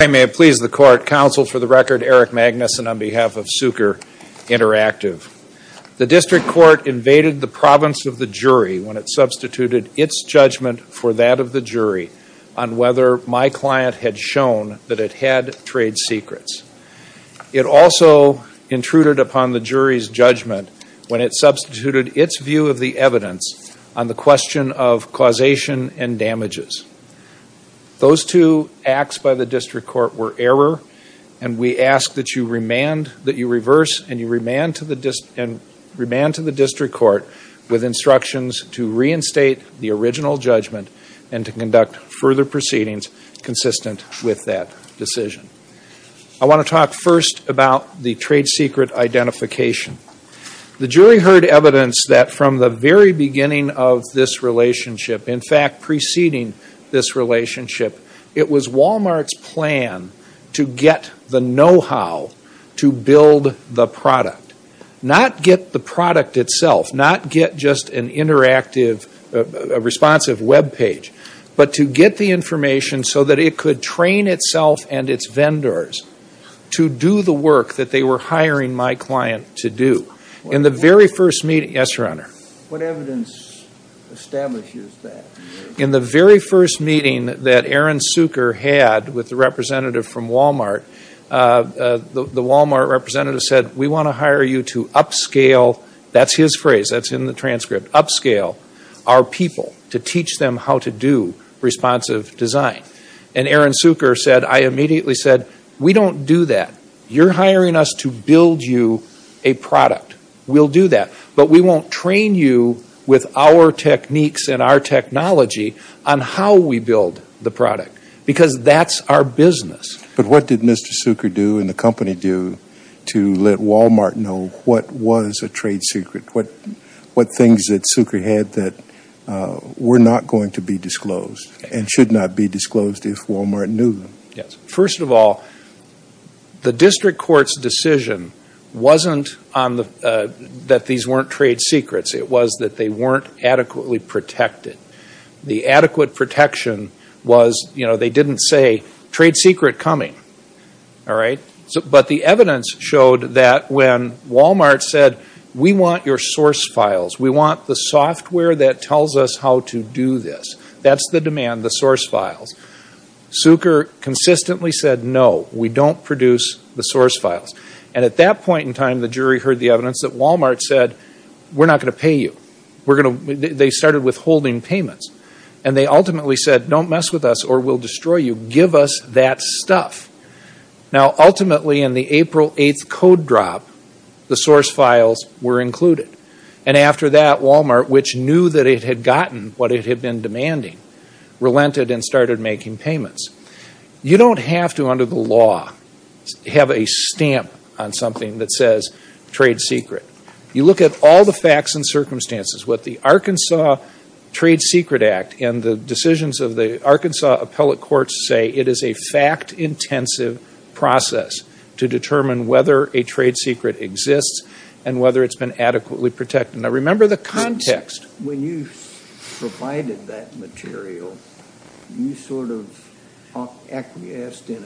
I may please the court, counsel for the record, Eric Magnuson on behalf of Cuker Interactive. The district court invaded the province of the jury when it substituted its judgment for that of the jury on whether my client had shown that it had trade secrets. It also intruded upon the jury's judgment when it substituted its view of the evidence on the question of causation and damages. Those two acts by the district court were error, and we ask that you reverse and remand to the district court with instructions to reinstate the original judgment and to conduct further proceedings consistent with that decision. I want to talk first about the trade secret identification. The jury heard evidence that from the very beginning of this relationship, in fact preceding this relationship, it was Walmart's plan to get the know-how to build the product. Not get the product itself, not get just an interactive responsive webpage, but to get the information so that it could train itself and its vendors to do the work that they were to do. What evidence establishes that? In the very first meeting that Aaron Cuker had with the representative from Walmart, the Walmart representative said, we want to hire you to upscale, that's his phrase, that's in the transcript, upscale our people to teach them how to do responsive design. And Aaron Cuker said, I immediately said, we don't do that. You're hiring us to build you a product. We'll do that. But we won't train you with our techniques and our technology on how we build the product. Because that's our business. But what did Mr. Cuker do and the company do to let Walmart know what was a trade secret? What things that Cuker had that were not going to be disclosed and should not be disclosed if Walmart knew? First of all, the district court's decision wasn't that these weren't trade secrets. It was that they weren't adequately protected. The adequate protection was, you know, they didn't say, trade secret coming. But the evidence showed that when Walmart said, we want your source files, we want the software that tells us how to do this, that's the demand, the source files. Cuker consistently said, no, we don't produce the source files. And at that point in time, the jury heard the evidence that Walmart said, we're not going to pay you. They started withholding payments. And they ultimately said, don't mess with us or we'll destroy you. Give us that stuff. Now ultimately in the April 8th code drop, the source files were included. And after that, Walmart, which knew that it had gotten what it had been demanding, relented and started making payments. You don't have to, under the law, have a stamp on something that says trade secret. You look at all the facts and circumstances. What the Arkansas Trade Secret Act and the decisions of the Arkansas appellate courts say it is a fact-intensive process to determine whether a trade secret exists and whether it's been adequately protected. Remember the context. When you provided that material, you sort of acquiesced in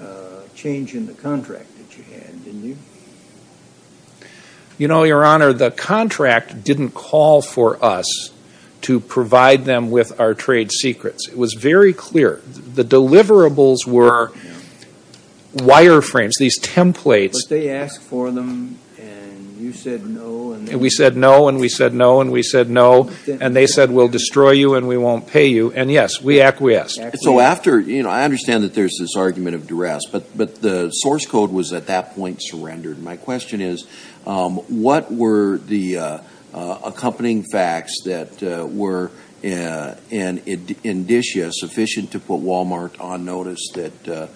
a change in the contract that you had, didn't you? You know, Your Honor, the contract didn't call for us to provide them with our trade secrets. It was very clear. The deliverables were wireframes, these templates. But they asked for them and you said no. And we said no and we said no and we said no. And they said we'll destroy you and we won't pay you. And yes, we acquiesced. So after, you know, I understand that there's this argument of duress, but the source code was at that point surrendered. My question is, what were the accompanying facts that were, in this year, sufficient to put Walmart on notice that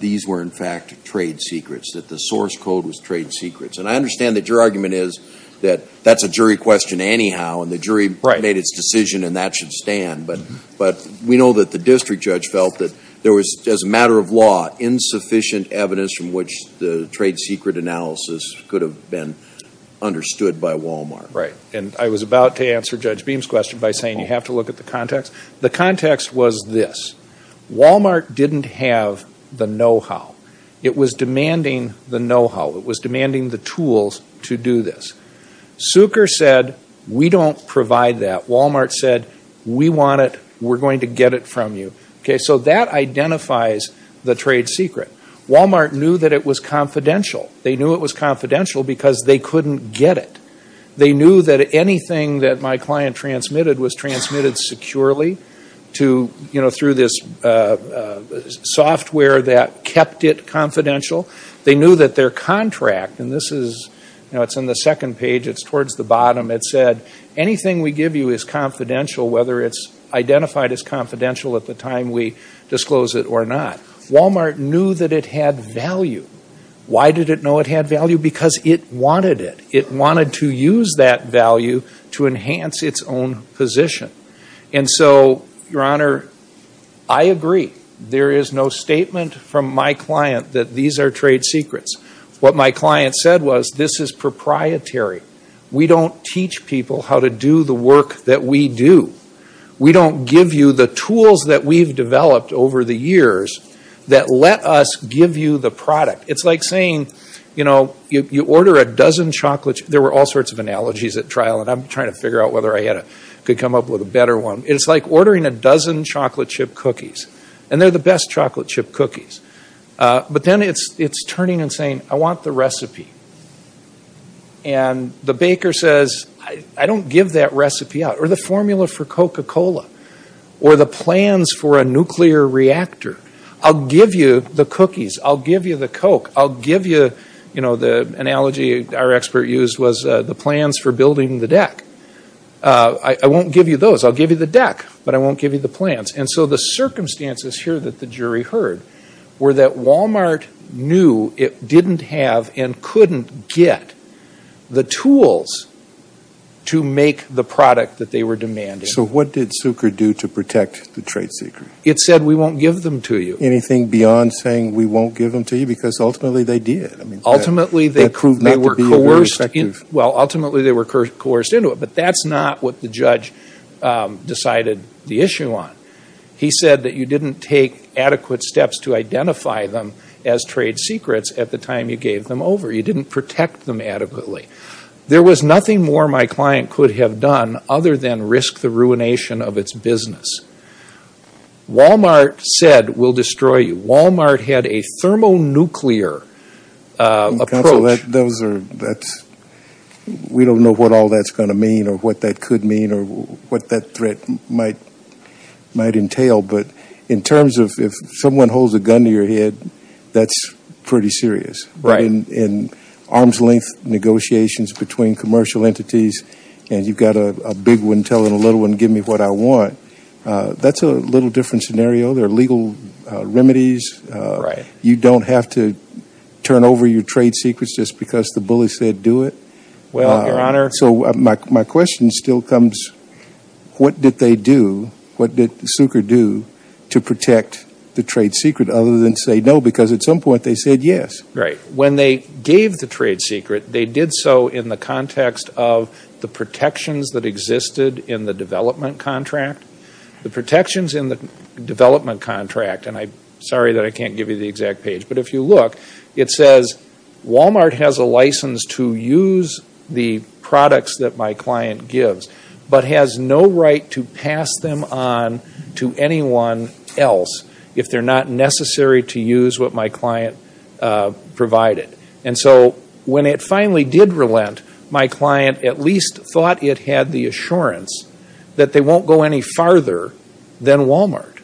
these were in fact trade secrets, that the source code was trade secrets? And I understand that your argument is that that's a jury question anyhow and the jury made its decision and that should stand. But we know that the district judge felt that there was, as a matter of law, insufficient evidence from which the trade secret analysis could have been understood by Walmart. Right. And I was about to answer Judge Beam's question by saying you have to look at the context. The context was this. It was demanding the know-how. It was demanding the tools to do this. Sucre said we don't provide that. Walmart said we want it. We're going to get it from you. Okay. So that identifies the trade secret. Walmart knew that it was confidential. They knew it was confidential because they couldn't get it. They knew that anything that my client transmitted was transmitted securely to, you know, through this software that kept it confidential. They knew that their contract, and this is, you know, it's on the second page. It's towards the bottom. It said anything we give you is confidential whether it's identified as confidential at the time we disclose it or not. Walmart knew that it had value. Why did it know it had value? Because it wanted it. It wanted to use that value to enhance its own position. And so, Your Honor, I agree. There is no statement from my client that these are trade secrets. What my client said was, this is proprietary. We don't teach people how to do the work that we do. We don't give you the tools that we've developed over the years that let us give you the product. It's like saying, you know, you order a dozen chocolate. There were all sorts of analogies at trial, and I'm trying to figure out whether I could come up with a better one. It's like ordering a dozen chocolate chip cookies, and they're the best chocolate chip cookies. But then it's turning and saying, I want the recipe. And the baker says, I don't give that recipe out, or the formula for Coca-Cola, or the plans for a nuclear reactor. I'll give you the cookies. I'll give you the Coke. I'll give you, you know, the analogy our expert used was the plans for building the deck. I won't give you those. I'll give you the deck, but I won't give you the plans. And so the circumstances here that the jury heard were that Walmart knew it didn't have and couldn't get the tools to make the product that they were demanding. So what did Suker do to protect the trade secret? It said, we won't give them to you. Anything beyond saying, we won't give them to you? Because ultimately they did. Ultimately they were coerced into it. But that's not what the judge decided the issue on. He said that you didn't take adequate steps to identify them as trade secrets at the time you gave them over. You didn't protect them adequately. There was nothing more my client could have done other than risk the ruination of its business. Walmart said, we'll destroy you. Walmart had a thermonuclear approach. So we don't know what all that's going to mean or what that could mean or what that threat might entail. But in terms of if someone holds a gun to your head, that's pretty serious. In arm's length negotiations between commercial entities and you've got a big one telling a little one, give me what I want, that's a little different scenario. There are legal remedies. You don't have to turn over your trade secrets just because the bully said do it. So my question still comes, what did they do? What did Suker do to protect the trade secret other than say no? Because at some point they said yes. When they gave the trade secret, they did so in the context of the protections that existed in the development contract. The protections in the development contract, and I'm sorry that I can't give you the exact page, but if you look, it says Walmart has a license to use the products that my client gives, but has no right to pass them on to anyone else if they're not necessary to use what my client provided. And so when it finally did relent, my client at least thought it had the assurance that they won't go any farther than Walmart,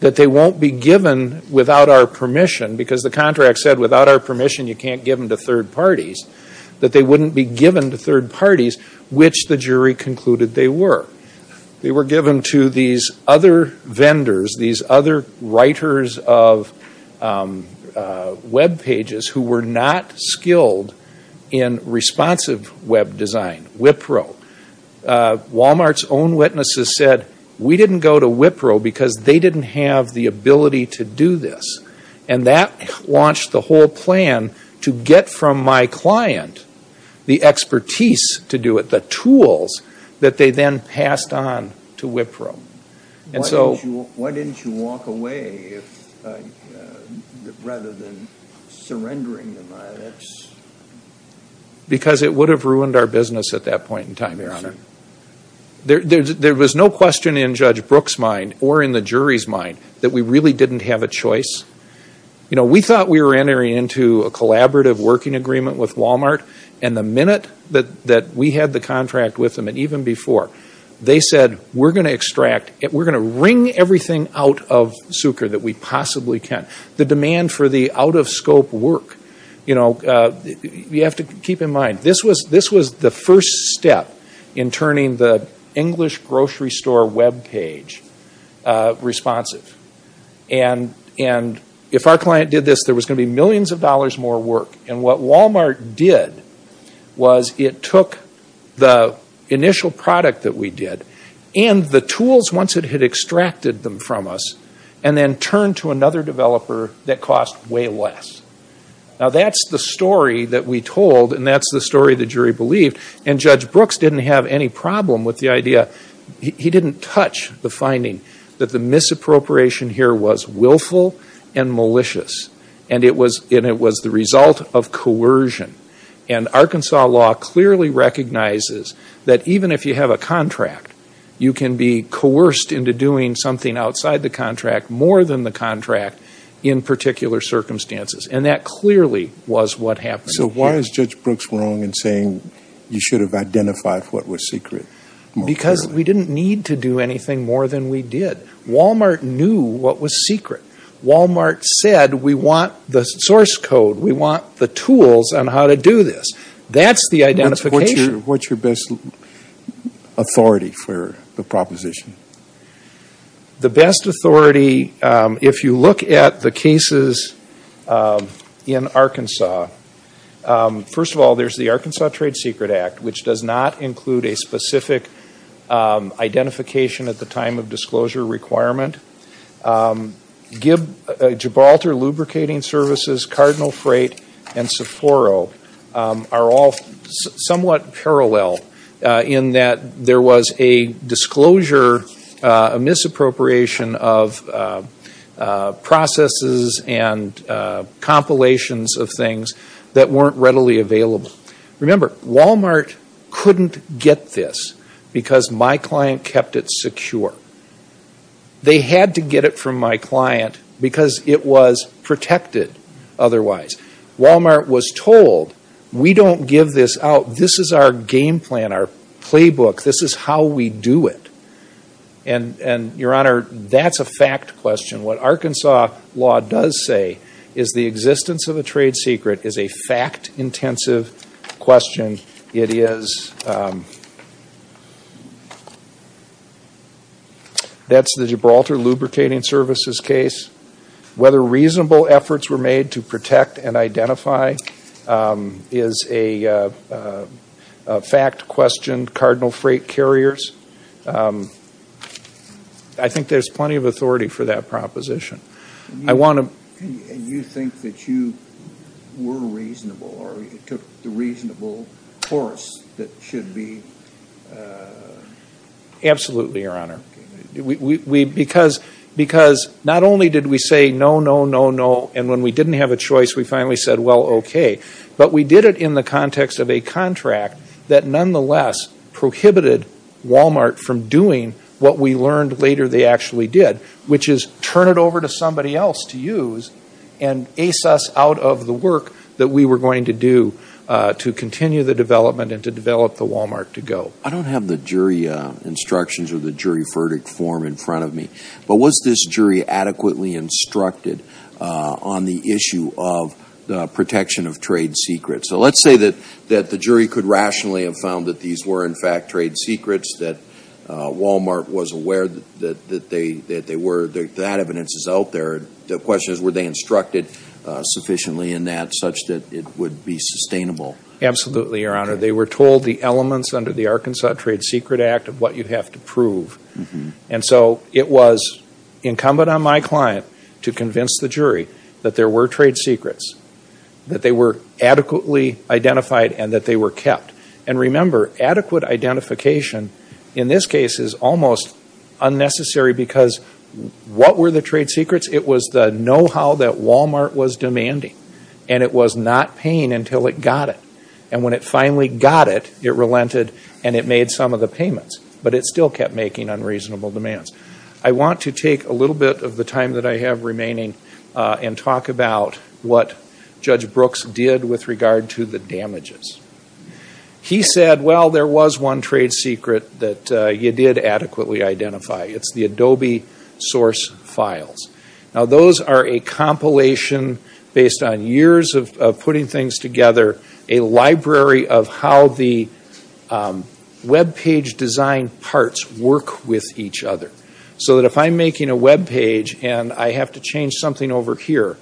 that they won't be given without our permission because the contract said without our permission you can't give them to third parties, that they wouldn't be given to third parties, which the jury concluded they were. They were given to these other vendors, these other writers of web pages who were not skilled in responsive web design, Wipro. Walmart's own witnesses said we didn't go to Wipro because they didn't have the ability to do this. And that launched the whole plan to get from my client the expertise to do it, the tools that they then passed on to Wipro. And so... Why didn't you walk away rather than surrendering them? Because it would have ruined our business at that point in time, Your Honor. There was no question in Judge Brooks' mind or in the jury's mind that we really didn't have a choice. You know, we thought we were entering into a collaborative working agreement with Walmart, and the minute that we had the contract with them, and even before, they said we're going to extract, we're going to wring everything out of Sucre that we possibly can. The demand for the out-of-scope work, you know, you have to keep in mind, this was the first step in turning the English grocery store web page responsive. And if our client did this, there was going to be millions of dollars more work. And what Walmart did was it took the initial product that we did, and the tools once it had extracted them from us, and then turned to another developer that cost way less. Now that's the story that we told, and that's the story the jury believed. And Judge Brooks didn't have any problem with the idea. He didn't touch the finding that the misappropriation here was willful and malicious. And it was the result of coercion. And Arkansas law clearly recognizes that even if you have a contract, you can be coerced into doing something outside the contract more than the contract in particular circumstances. And that clearly was what happened. So why is Judge Brooks wrong in saying you should have identified what was secret? Because we didn't need to do anything more than we did. Walmart knew what was secret. Walmart said we want the source code. We want the tools on how to do this. That's the identification. What's your best authority for the proposition? The best authority, if you look at the cases in Arkansas, first of all, there's the Arkansas Trade Secret Act, which does not include a specific identification at the time of disclosure requirement. Gibraltar Lubricating Services, Cardinal Freight, and Sephora are all somewhat parallel in that there was a disclosure, a misappropriation of processes and compilations of things that weren't readily available. Remember, Walmart couldn't get this because my client kept it secure. They had to get it from my client because it was protected otherwise. Walmart was told we don't give this out. This is our game plan, our playbook. This is how we do it. And, Your Honor, that's a fact question. What Arkansas law does say is the existence of a trade secret is a fact-intensive question. It is, that's the Gibraltar Lubricating Services case. Whether reasonable efforts were made to protect and identify is a fact question. Cardinal Freight carriers, I think there's plenty of authority for that proposition. And you think that you were reasonable or you took the reasonable course that should be... Absolutely, Your Honor. Because not only did we say no, no, no, no, and when we didn't have a choice, we finally said, well, okay. But we did it in the context of a contract that nonetheless prohibited Walmart from doing what we learned later they actually did, which is turn it over to somebody else to use and ace us out of the work that we were going to do to continue the development and to develop the Walmart to go. I don't have the jury instructions or the jury verdict form in front of me. But was this jury adequately instructed on the issue of the protection of trade secrets? So let's say that the jury could rationally have found that these were, in fact, trade secrets, that Walmart was aware that they were, that evidence is out there. The question is, were they instructed sufficiently in that such that it would be sustainable? Absolutely, Your Honor. They were told the elements under the Arkansas Trade Secret Act of what you have to prove. And so it was incumbent on my client to convince the jury that there were trade secrets, that they were adequately identified and that they were kept. And remember, adequate identification in this case is almost unnecessary because what were the trade secrets? It was the know-how that Walmart was demanding. And it was not paying until it got it. And when it finally got it, it relented and it made some of the payments. But it still kept making unreasonable demands. I want to take a little bit of the time that I have remaining and talk about what Judge Brooks did with regard to the damages. He said, well, there was one trade secret that you did adequately identify. It's the Adobe source files. Now, those are a compilation based on years of putting things together, a library of how the webpage design parts work with each other. So that if I'm making a webpage and I have to change something over here,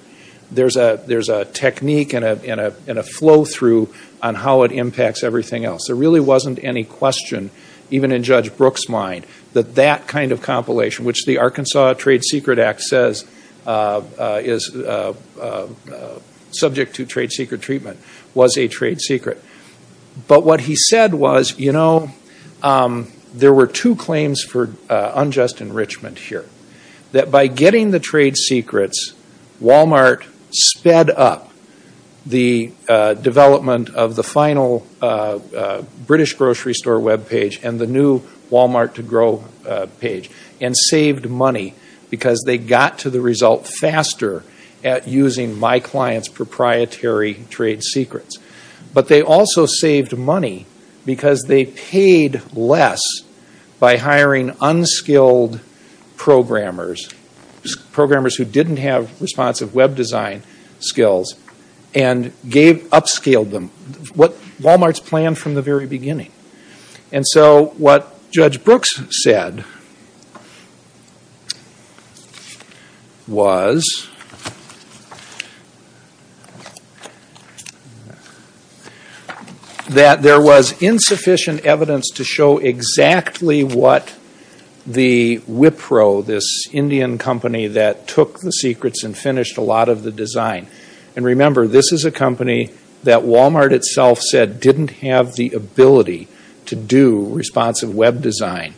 there's a technique and a flow-through on how it impacts everything else. There really wasn't any question, even in Judge Brooks' mind, that that kind of compilation, which the Arkansas Trade Secret Act says is subject to trade secret treatment, was a trade secret. But what he said was, you know, there were two claims for unjust enrichment here. That by getting the trade secrets, Walmart sped up the development of the final British grocery store webpage and the new Walmart to grow page. And saved money because they got to the result faster at using my client's proprietary trade secrets. But they also saved money because they paid less by hiring unskilled programmers, programmers who didn't have responsive web design skills, and upscaled them, what Walmart's planned from the very beginning. And so what Judge Brooks said was that there was insufficient evidence to show exactly what the Wipro, this Indian company that took the secrets and finished a lot of the design. And remember, this is a company that Walmart itself said didn't have the ability to do responsive web design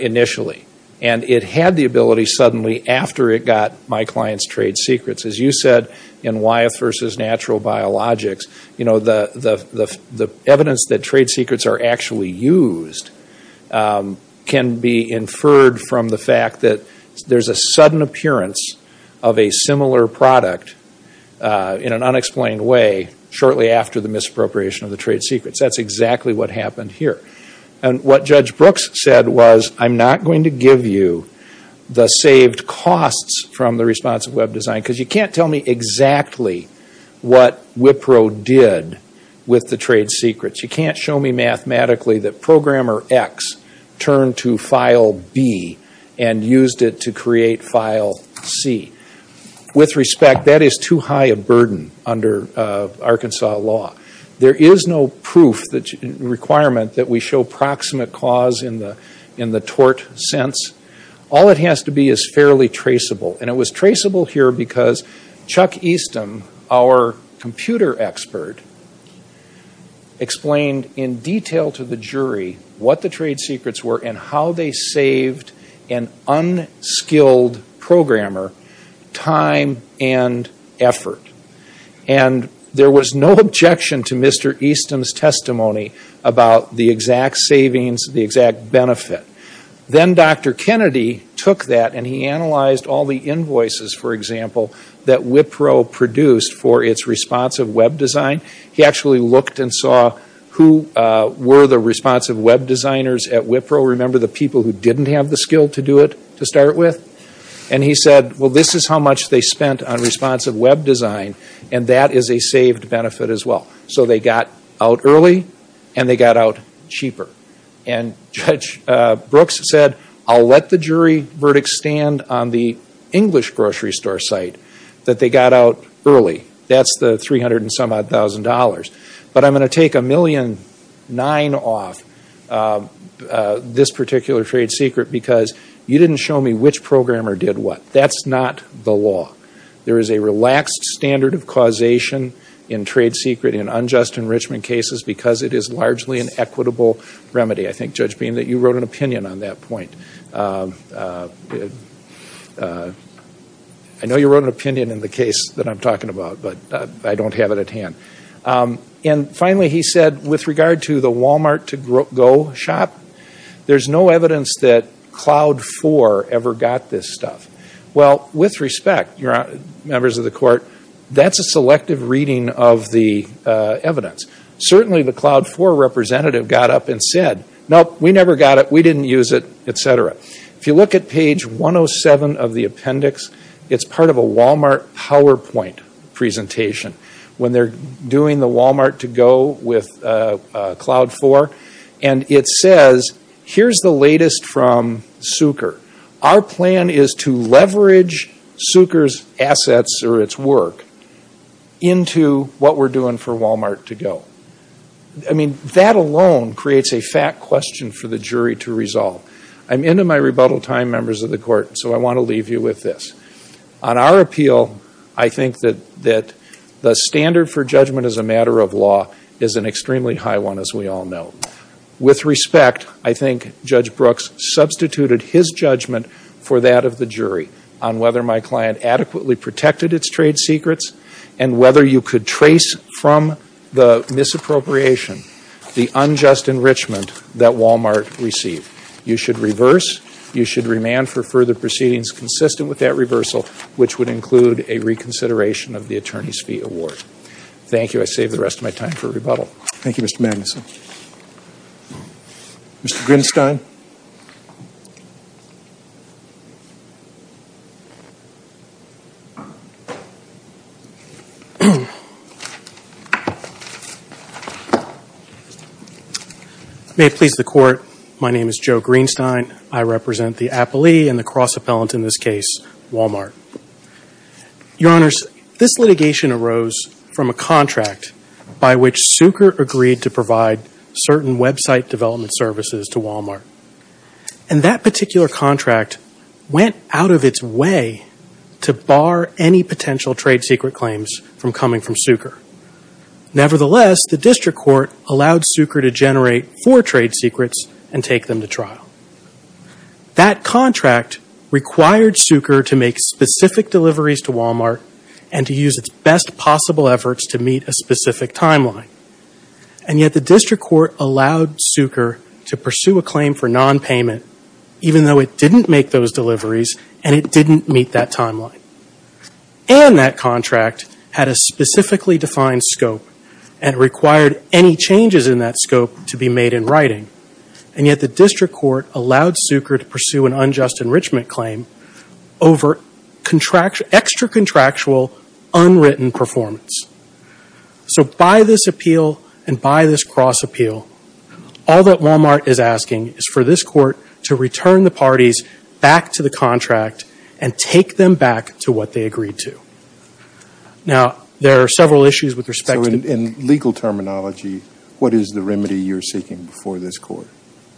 initially. And it had the ability suddenly after it got my client's trade secrets. As you said, in Wyeth versus Natural Biologics, you know, the evidence that trade secrets are actually used can be inferred from the fact that there's a sudden appearance of a similar product in an unexplained way shortly after the misappropriation of the trade secrets. That's exactly what happened here. And what Judge Brooks said was, I'm not going to give you the saved costs from the responsive web design because you can't tell me exactly what Wipro did with the trade secrets. You can't show me mathematically that programmer X turned to file B and used it to create file C. With respect, that is too high a burden under Arkansas law. There is no proof requirement that we show proximate cause in the tort sense. All it has to be is fairly traceable. And it was traceable here because Chuck Easton, our computer expert, explained in detail to the jury what the trade secrets were and how they saved an unskilled programmer time and effort. And there was no objection to Mr. Easton's testimony about the exact savings, the exact benefit. Then Dr. Kennedy took that and he analyzed all the invoices, for example, that Wipro produced for its responsive web design. He actually looked and saw who were the responsive web designers at Wipro. Remember the people who didn't have the skill to do it to start with? And he said, well, this is how much they spent on responsive web design and that is a saved benefit as well. So they got out early and they got out cheaper. And Judge Brooks said, I'll let the jury verdict stand on the English grocery store site that they got out early. That's the 300 and some odd thousand dollars. But I'm going to take a million nine off this particular trade secret because you didn't show me which programmer did what. That's not the law. There is a relaxed standard of causation in trade secret in unjust enrichment cases because it is largely an equitable remedy. I think, Judge Beam, that you wrote an opinion on that point. I know you wrote an opinion in the case that I'm talking about, but I don't have it at hand. And finally, he said, with regard to the Walmart to-go shop, there's no evidence that Cloud Four ever got this stuff. Well, with respect, members of the court, that's a selective reading of the evidence. Certainly the Cloud Four representative got up and said, nope, we never got it. We didn't use it, et cetera. If you look at page 107 of the appendix, it's part of a Walmart PowerPoint presentation when they're doing the Walmart to-go with Cloud Four. And it says, here's the latest from Sucre. Our plan is to leverage Sucre's assets or its work into what we're doing for Walmart to-go. I mean, that alone creates a fat question for the jury to resolve. I'm into my rebuttal time, members of the court, so I want to leave you with this. On our appeal, I think that the standard for judgment as a matter of law is an extremely high one, as we all know. With respect, I think Judge Brooks substituted his judgment for that of the jury on whether my client adequately protected its trade secrets and whether you could trace from the misappropriation the unjust enrichment that Walmart received. You should reverse. You should remand for further proceedings consistent with that reversal, which would include a reconsideration of the attorney's fee award. Thank you. I save the rest of my time for rebuttal. Thank you, Mr. Magnuson. Mr. Greenstein. May it please the court, my name is Joe Greenstein. I represent the appellee and the cross-appellant in this case, Walmart. Your Honors, this litigation arose from a contract by which Sucre agreed to provide certain website development services to Walmart. And that particular contract went out of its way to bar any potential trade secret claims from coming from Sucre. Nevertheless, the district court allowed Sucre to generate four trade secrets and take them to trial. That contract required Sucre to make specific deliveries to Walmart and to use its best possible efforts to meet a specific timeline. And yet the district court allowed Sucre to pursue a claim for nonpayment, even though it didn't make those deliveries and it didn't meet that timeline. And that contract had a specifically defined scope and required any changes in that scope to be made in writing. And yet the district court allowed Sucre to pursue an unjust enrichment claim over extra-contractual, unwritten performance. So by this appeal and by this cross-appeal, all that Walmart is asking is for this court to return the parties back to the contract and take them back to what they agreed to. Now, there are several issues with respect to this. What is the remedy you're seeking before this court?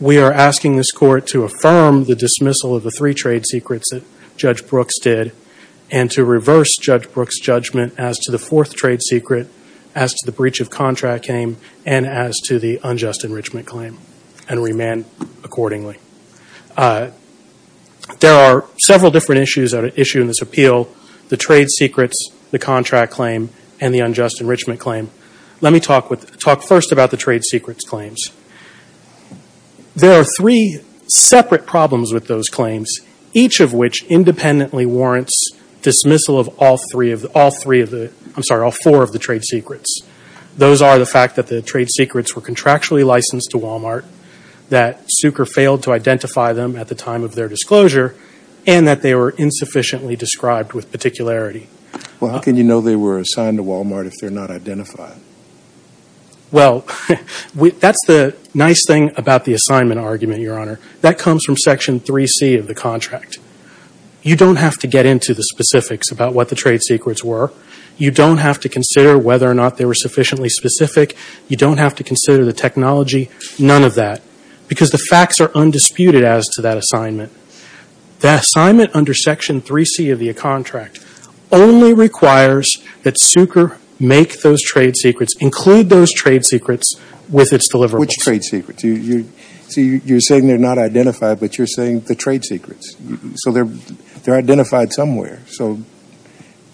We are asking this court to affirm the dismissal of the three trade secrets that Judge Brooks did and to reverse Judge Brooks' judgment as to the fourth trade secret, as to the breach of contract claim, and as to the unjust enrichment claim, and remand accordingly. There are several different issues at issue in this appeal, the trade secrets, the contract claim, and the unjust enrichment claim. Let me talk first about the trade secrets claims. There are three separate problems with those claims, each of which independently warrants dismissal of all four of the trade secrets. Those are the fact that the trade secrets were contractually licensed to Walmart, that Sucre failed to identify them at the time of their disclosure, and that they were insufficiently described with particularity. Well, how can you know they were assigned to Walmart if they're not identified? Well, that's the nice thing about the assignment argument, Your Honor. That comes from Section 3C of the contract. You don't have to get into the specifics about what the trade secrets were. You don't have to consider whether or not they were sufficiently specific. You don't have to consider the technology, none of that, because the facts are undisputed as to that assignment. The assignment under Section 3C of the contract only requires that Sucre make those trade secrets, include those trade secrets with its deliverables. Which trade secrets? You're saying they're not identified, but you're saying the trade secrets. So they're identified somewhere.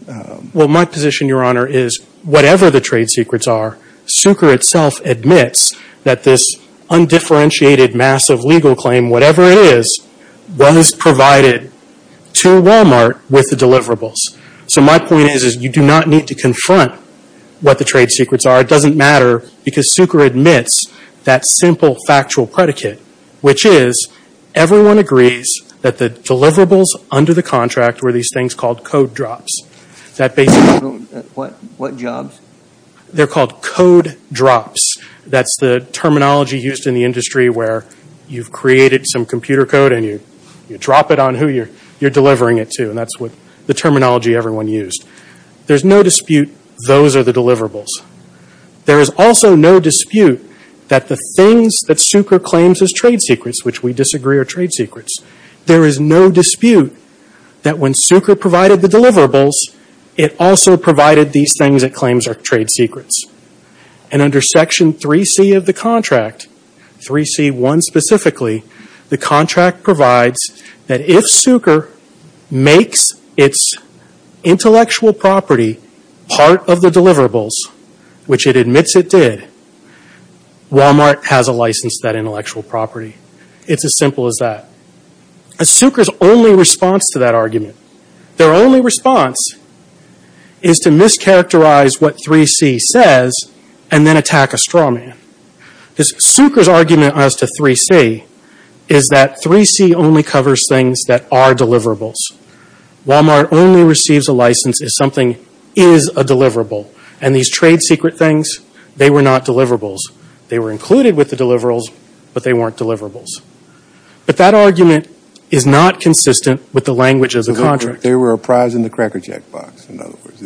Well, my position, Your Honor, is whatever the trade secrets are, Sucre itself admits that this undifferentiated, massive legal claim, whatever it is, was provided to Walmart with the deliverables. So my point is you do not need to confront what the trade secrets are. It doesn't matter because Sucre admits that simple factual predicate, which is everyone agrees that the deliverables under the contract were these things called code drops. What jobs? They're called code drops. That's the terminology used in the industry where you've created some computer code and you drop it on who you're delivering it to. And that's the terminology everyone used. There's no dispute those are the deliverables. There is also no dispute that the things that Sucre claims as trade secrets, which we disagree are trade secrets. There is no dispute that when Sucre provided the deliverables, it also provided these things it claims are trade secrets. And under Section 3C of the contract, 3C1 specifically, the contract provides that if Sucre makes its intellectual property part of the deliverables, which it admits it did, Walmart has a license to that intellectual property. It's as simple as that. Sucre's only response to that argument, their only response is to mischaracterize what 3C says and then attack a straw man. Sucre's argument as to 3C is that 3C only covers things that are deliverables. Walmart only receives a license if something is a deliverable. And these trade secret things, they were not deliverables. They were included with the deliverables, but they weren't deliverables. But that argument is not consistent with the language of the contract. They were a prize in the Cracker Jack box. In other words,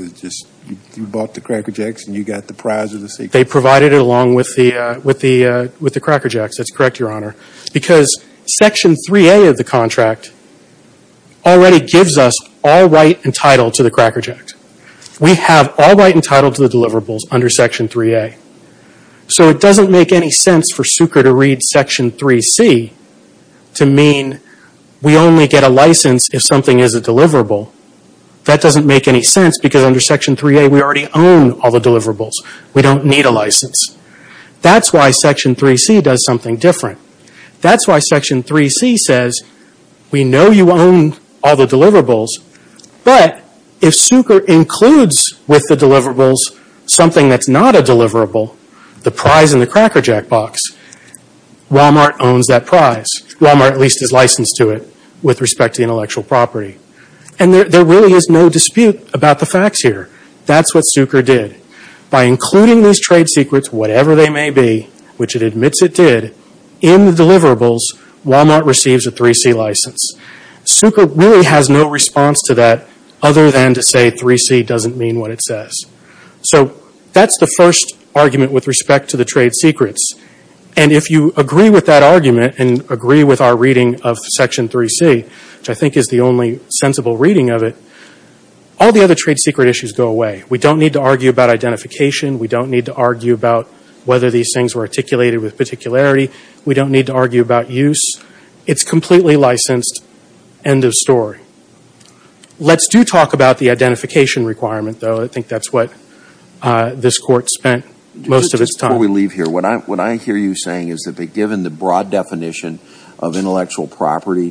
you bought the Cracker Jacks and you got the prize of the secret. They provided it along with the Cracker Jacks. That's correct, Your Honor. Because Section 3A of the contract already gives us all right and title to the Cracker Jacks. We have all right and title to the deliverables under Section 3A. So it doesn't make any sense for Sucre to read Section 3C to mean we only get a license if something is a deliverable. That doesn't make any sense because under Section 3A we already own all the deliverables. We don't need a license. That's why Section 3C does something different. That's why Section 3C says we know you own all the deliverables, but if Sucre includes with the deliverables something that's not a deliverable, the prize in the Cracker Jack box, Wal-Mart owns that prize. Wal-Mart at least is licensed to it with respect to intellectual property. And there really is no dispute about the facts here. That's what Sucre did. By including these trade secrets, whatever they may be, which it admits it did, in the deliverables, Wal-Mart receives a 3C license. Sucre really has no response to that other than to say 3C doesn't mean what it says. So that's the first argument with respect to the trade secrets. And if you agree with that argument and agree with our reading of Section 3C, which I think is the only sensible reading of it, all the other trade secret issues go away. We don't need to argue about identification. We don't need to argue about whether these things were articulated with particularity. We don't need to argue about use. It's completely licensed. End of story. Let's do talk about the identification requirement, though. I think that's what this Court spent most of its time on. Before we leave here, what I hear you saying is that given the broad definition of intellectual property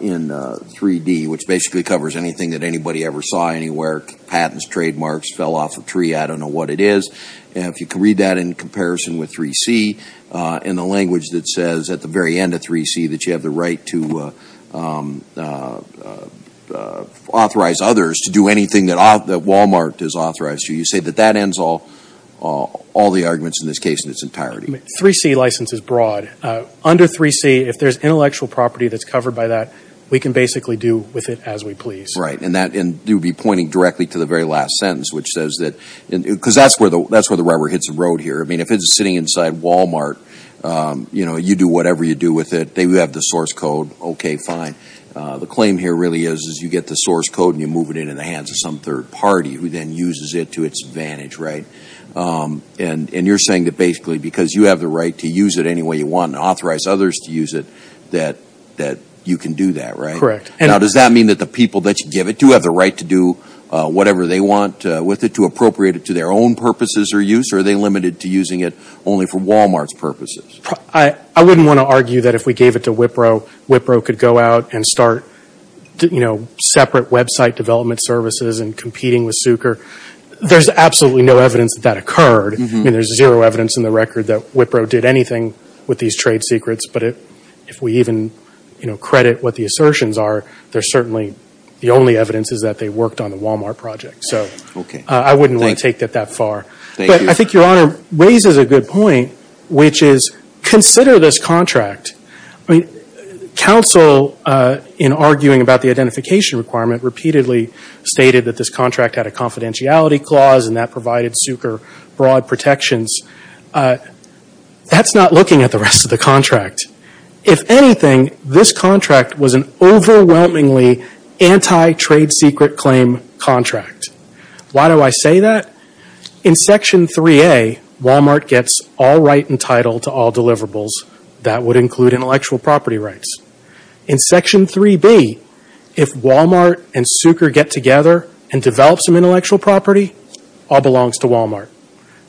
in 3D, which basically covers anything that anybody ever saw anywhere, patents, trademarks, fell off a tree, I don't know what it is. If you can read that in comparison with 3C and the language that says at the very end of 3C that you have the right to authorize others to do anything that Wal-Mart has authorized you, you say that that ends all the arguments in this case in its entirety. 3C license is broad. Under 3C, if there's intellectual property that's covered by that, we can basically do with it as we please. Right. And you'd be pointing directly to the very last sentence, which says that, because that's where the rubber hits the road here. I mean, if it's sitting inside Wal-Mart, you know, you do whatever you do with it. They have the source code. Okay, fine. The claim here really is you get the source code and you move it into the hands of some third party, who then uses it to its advantage, right? And you're saying that basically because you have the right to use it any way you want and authorize others to use it, that you can do that, right? Correct. Now, does that mean that the people that you give it to have the right to do whatever they want with it, to appropriate it to their own purposes or use, or are they limited to using it only for Wal-Mart's purposes? I wouldn't want to argue that if we gave it to Wipro, Wipro could go out and start, you know, separate website development services and competing with Sucre. There's absolutely no evidence that that occurred. I mean, there's zero evidence in the record that Wipro did anything with these trade secrets. But if we even, you know, credit what the assertions are, there's certainly the only evidence is that they worked on the Wal-Mart project. So I wouldn't want to take that that far. But I think Your Honor raises a good point, which is consider this contract. I mean, counsel, in arguing about the identification requirement, repeatedly stated that this contract had a confidentiality clause and that provided Sucre broad protections. That's not looking at the rest of the contract. If anything, this contract was an overwhelmingly anti-trade secret claim contract. Why do I say that? In Section 3A, Wal-Mart gets all right and title to all deliverables. That would include intellectual property rights. In Section 3B, if Wal-Mart and Sucre get together and develop some intellectual property, all belongs to Wal-Mart.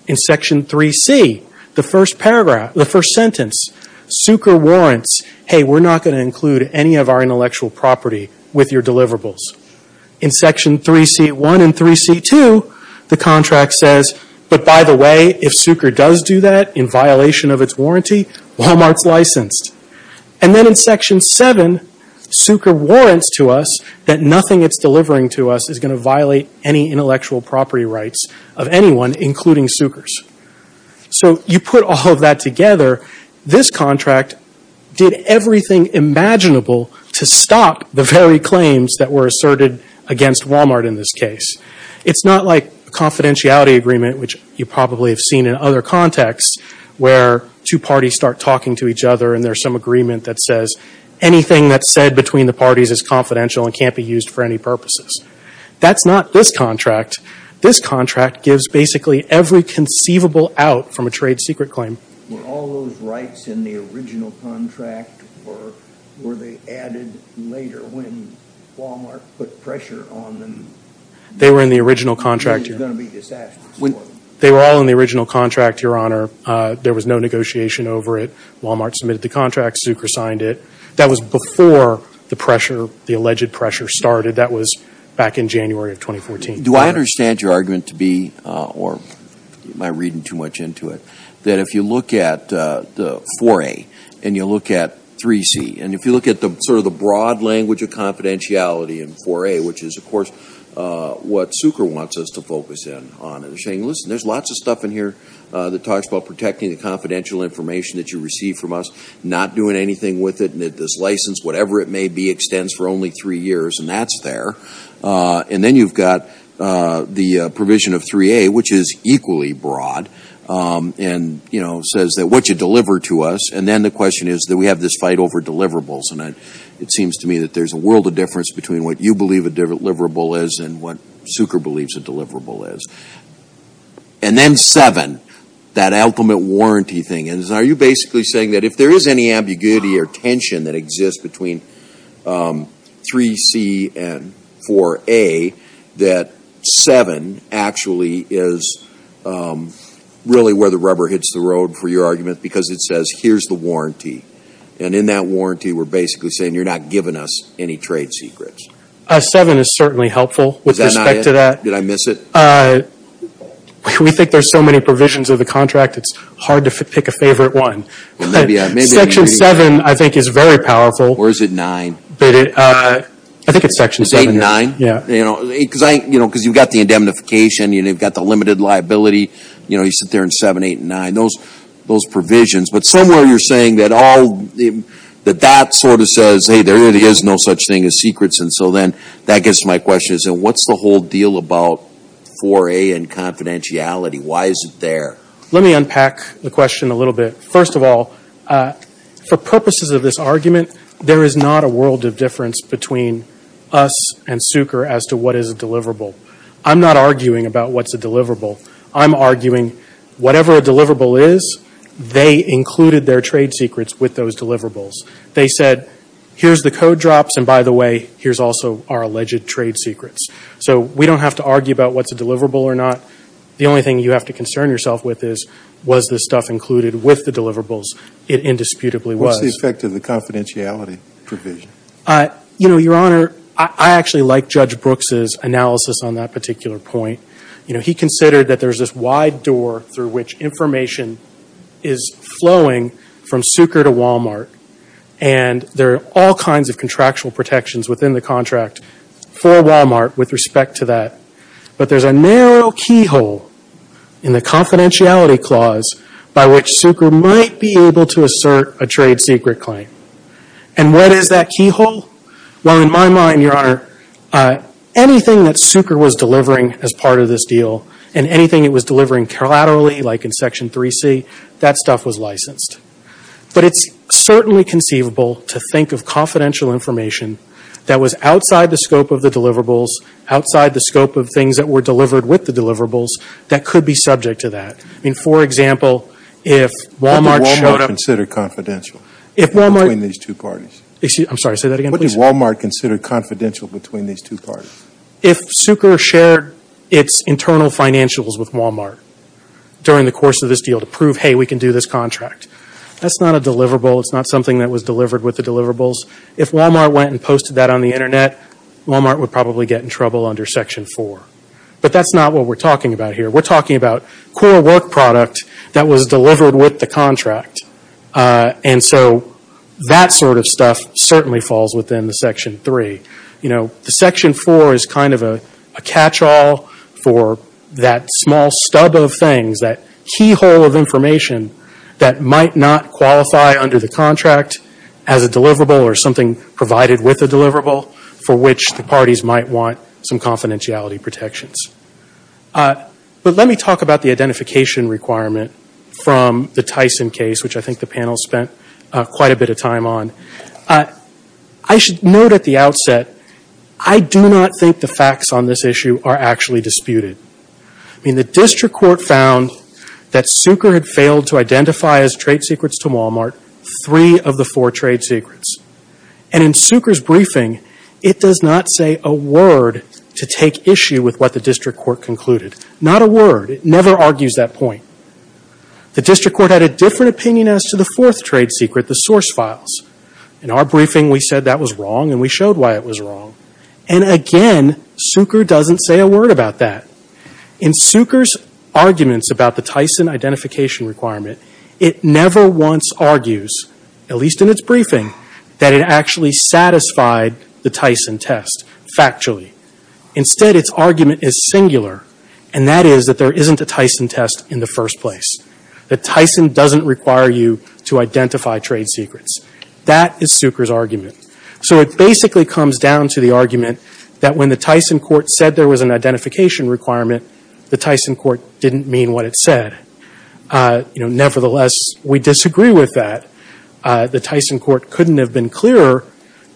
In Section 3C, the first paragraph, the first sentence, Sucre warrants, hey, we're not going to include any of our intellectual property with your deliverables. In Section 3C.1 and 3C.2, the contract says, but by the way, if Sucre does do that, in violation of its warranty, Wal-Mart's licensed. And then in Section 7, Sucre warrants to us that nothing it's delivering to us is going to violate any intellectual property rights of anyone, including Sucre's. So you put all of that together, this contract did everything imaginable to stop the very claims that were asserted against Wal-Mart in this case. It's not like a confidentiality agreement, which you probably have seen in other contexts, where two parties start talking to each other and there's some agreement that says anything that's said between the parties is confidential and can't be used for any purposes. That's not this contract. This contract gives basically every conceivable out from a trade secret claim. Were all those rights in the original contract or were they added later when Wal-Mart put pressure on them? They were in the original contract. It was going to be disastrous for them. They were all in the original contract, Your Honor. There was no negotiation over it. Wal-Mart submitted the contract. Sucre signed it. That was before the pressure, the alleged pressure started. That was back in January of 2014. Do I understand your argument to be, or am I reading too much into it, that if you look at 4A and you look at 3C, and if you look at sort of the broad language of confidentiality in 4A, which is, of course, what Sucre wants us to focus in on. They're saying, listen, there's lots of stuff in here that talks about protecting the confidential information that you receive from us, not doing anything with it, and that this license, whatever it may be, extends for only three years, and that's there. And then you've got the provision of 3A, which is equally broad, and, you know, says that what you deliver to us, and then the question is that we have this fight over deliverables. And it seems to me that there's a world of difference between what you believe a deliverable is and what Sucre believes a deliverable is. And then 7, that ultimate warranty thing. And are you basically saying that if there is any ambiguity or tension that exists between 3C and 4A, that 7 actually is really where the rubber hits the road for your argument, because it says here's the warranty. And in that warranty, we're basically saying you're not giving us any trade secrets. 7 is certainly helpful with respect to that. Did I miss it? We think there's so many provisions of the contract, it's hard to pick a favorite one. Section 7, I think, is very powerful. Or is it 9? I think it's Section 7. It's 8 and 9? Yeah. Because you've got the indemnification, you've got the limited liability. You sit there in 7, 8, and 9, those provisions. But somewhere you're saying that that sort of says, hey, there really is no such thing as secrets. And so then that gets to my question. What's the whole deal about 4A and confidentiality? Why is it there? Let me unpack the question a little bit. First of all, for purposes of this argument, there is not a world of difference between us and Sucre as to what is a deliverable. I'm not arguing about what's a deliverable. I'm arguing whatever a deliverable is, they included their trade secrets with those deliverables. They said, here's the code drops, and by the way, here's also our alleged trade secrets. So we don't have to argue about what's a deliverable or not. The only thing you have to concern yourself with is, was this stuff included with the deliverables? It indisputably was. What's the effect of the confidentiality provision? You know, Your Honor, I actually like Judge Brooks' analysis on that particular point. You know, he considered that there's this wide door through which information is flowing from Sucre to Walmart, and there are all kinds of contractual protections within the contract for Walmart with respect to that. But there's a narrow keyhole in the confidentiality clause by which Sucre might be able to assert a trade secret claim. And what is that keyhole? Well, in my mind, Your Honor, anything that Sucre was delivering as part of this deal and anything it was delivering collaterally, like in Section 3C, that stuff was licensed. But it's certainly conceivable to think of confidential information that was outside the scope of the deliverables, outside the scope of things that were delivered with the deliverables, that could be subject to that. I mean, for example, if Walmart showed up. But did Walmart consider confidential between these two parties? I'm sorry, say that again, please. What did Walmart consider confidential between these two parties? If Sucre shared its internal financials with Walmart during the course of this deal to prove, hey, we can do this contract. That's not a deliverable. It's not something that was delivered with the deliverables. If Walmart went and posted that on the Internet, Walmart would probably get in trouble under Section 4. But that's not what we're talking about here. We're talking about core work product that was delivered with the contract. And so that sort of stuff certainly falls within the Section 3. The Section 4 is kind of a catch-all for that small stub of things, that keyhole of information that might not qualify under the contract as a deliverable or something provided with a deliverable for which the parties might want some confidentiality protections. But let me talk about the identification requirement from the Tyson case, which I think the panel spent quite a bit of time on. I should note at the outset, I do not think the facts on this issue are actually disputed. I mean, the district court found that Sucre had failed to identify as trade secrets to Walmart three of the four trade secrets. And in Sucre's briefing, it does not say a word to take issue with what the district court concluded. Not a word. It never argues that point. The district court had a different opinion as to the fourth trade secret, the source files. In our briefing, we said that was wrong, and we showed why it was wrong. And again, Sucre doesn't say a word about that. In Sucre's arguments about the Tyson identification requirement, it never once argues, at least in its briefing, that it actually satisfied the Tyson test factually. Instead, its argument is singular, and that is that there isn't a Tyson test in the first place. That Tyson doesn't require you to identify trade secrets. That is Sucre's argument. So it basically comes down to the argument that when the Tyson court said there was an identification requirement, the Tyson court didn't mean what it said. Nevertheless, we disagree with that. The Tyson court couldn't have been clearer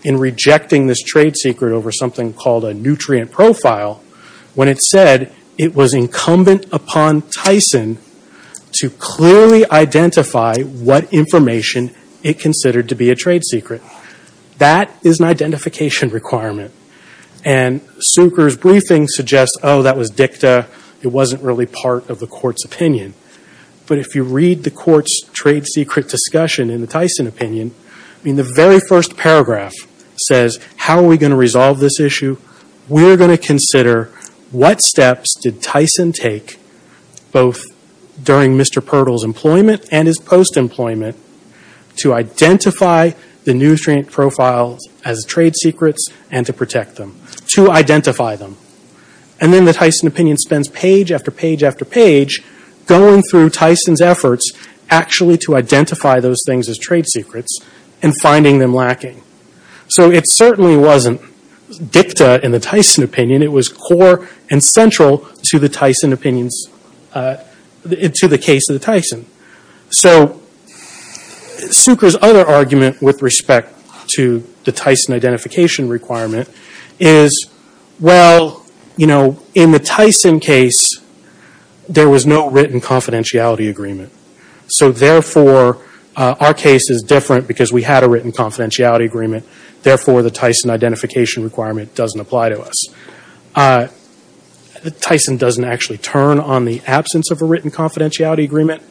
in rejecting this trade secret over something called a nutrient profile when it said it was incumbent upon Tyson to clearly identify what information it considered to be a trade secret. That is an identification requirement. And Sucre's briefing suggests, oh, that was dicta. It wasn't really part of the court's opinion. But if you read the court's trade secret discussion in the Tyson opinion, I mean, the very first paragraph says, how are we going to resolve this issue? We are going to consider what steps did Tyson take, both during Mr. Pertle's employment and his post-employment, to identify the nutrient profiles as trade secrets and to protect them, to identify them. And then the Tyson opinion spends page after page after page going through Tyson's efforts actually to identify those things as trade secrets and finding them lacking. So it certainly wasn't dicta in the Tyson opinion. It was core and central to the Tyson opinions, to the case of the Tyson. So Sucre's other argument with respect to the Tyson identification requirement is, well, you know, in the Tyson case, there was no written confidentiality agreement. So therefore, our case is different because we had a written confidentiality agreement. Therefore, the Tyson identification requirement doesn't apply to us. Tyson doesn't actually turn on the absence of a written confidentiality agreement.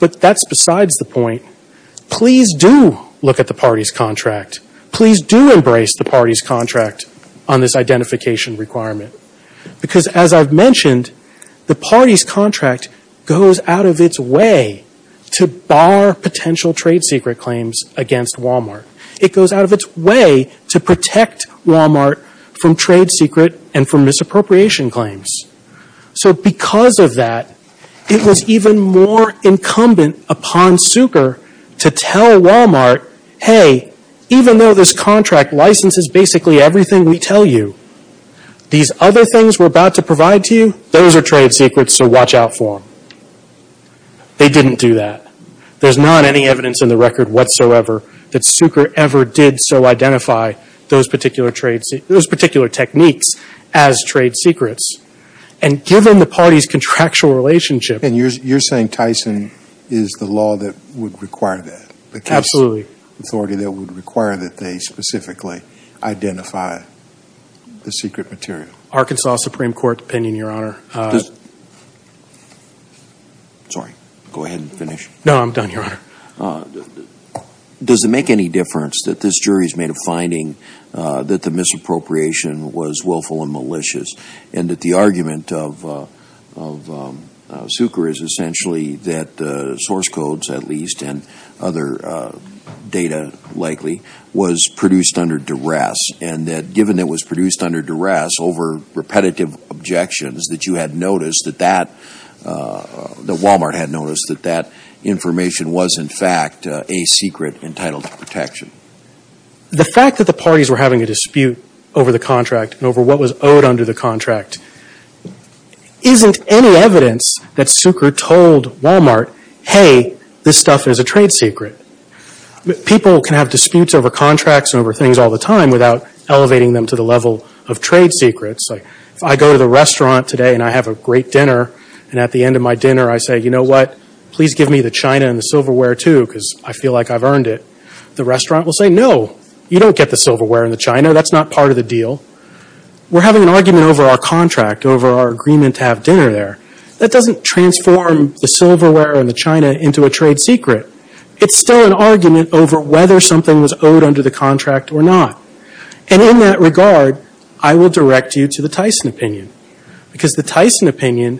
But that's besides the point. Please do look at the party's contract. Please do embrace the party's contract on this identification requirement. Because as I've mentioned, the party's contract goes out of its way to bar potential trade secret claims against Walmart. It goes out of its way to protect Walmart from trade secret and from misappropriation claims. So because of that, it was even more incumbent upon Sucre to tell Walmart, hey, even though this contract licenses basically everything we tell you, these other things we're about to provide to you, those are trade secrets, so watch out for them. They didn't do that. There's not any evidence in the record whatsoever that Sucre ever did so identify those particular techniques as trade secrets. And given the party's contractual relationship. And you're saying Tyson is the law that would require that? Absolutely. The case authority that would require that they specifically identify the secret material. Arkansas Supreme Court opinion, Your Honor. Sorry. Go ahead and finish. No, I'm done, Your Honor. Does it make any difference that this jury's made a finding that the misappropriation was willful and malicious and that the argument of Sucre is essentially that source codes at least and other data likely was produced under duress and that given it was produced under duress over repetitive objections that you had noticed that that, that Walmart had noticed that that information was in fact a secret entitled to protection? The fact that the parties were having a dispute over the contract and over what was owed under the contract isn't any evidence that Sucre told Walmart, hey, this stuff is a trade secret. People can have disputes over contracts and over things all the time without elevating them to the level of trade secrets. If I go to the restaurant today and I have a great dinner and at the end of my dinner I say, you know what, please give me the china and the silverware too because I feel like I've earned it. The restaurant will say, no, you don't get the silverware and the china. That's not part of the deal. We're having an argument over our contract, over our agreement to have dinner there. That doesn't transform the silverware and the china into a trade secret. It's still an argument over whether something was owed under the contract or not. And in that regard, I will direct you to the Tyson opinion because the Tyson opinion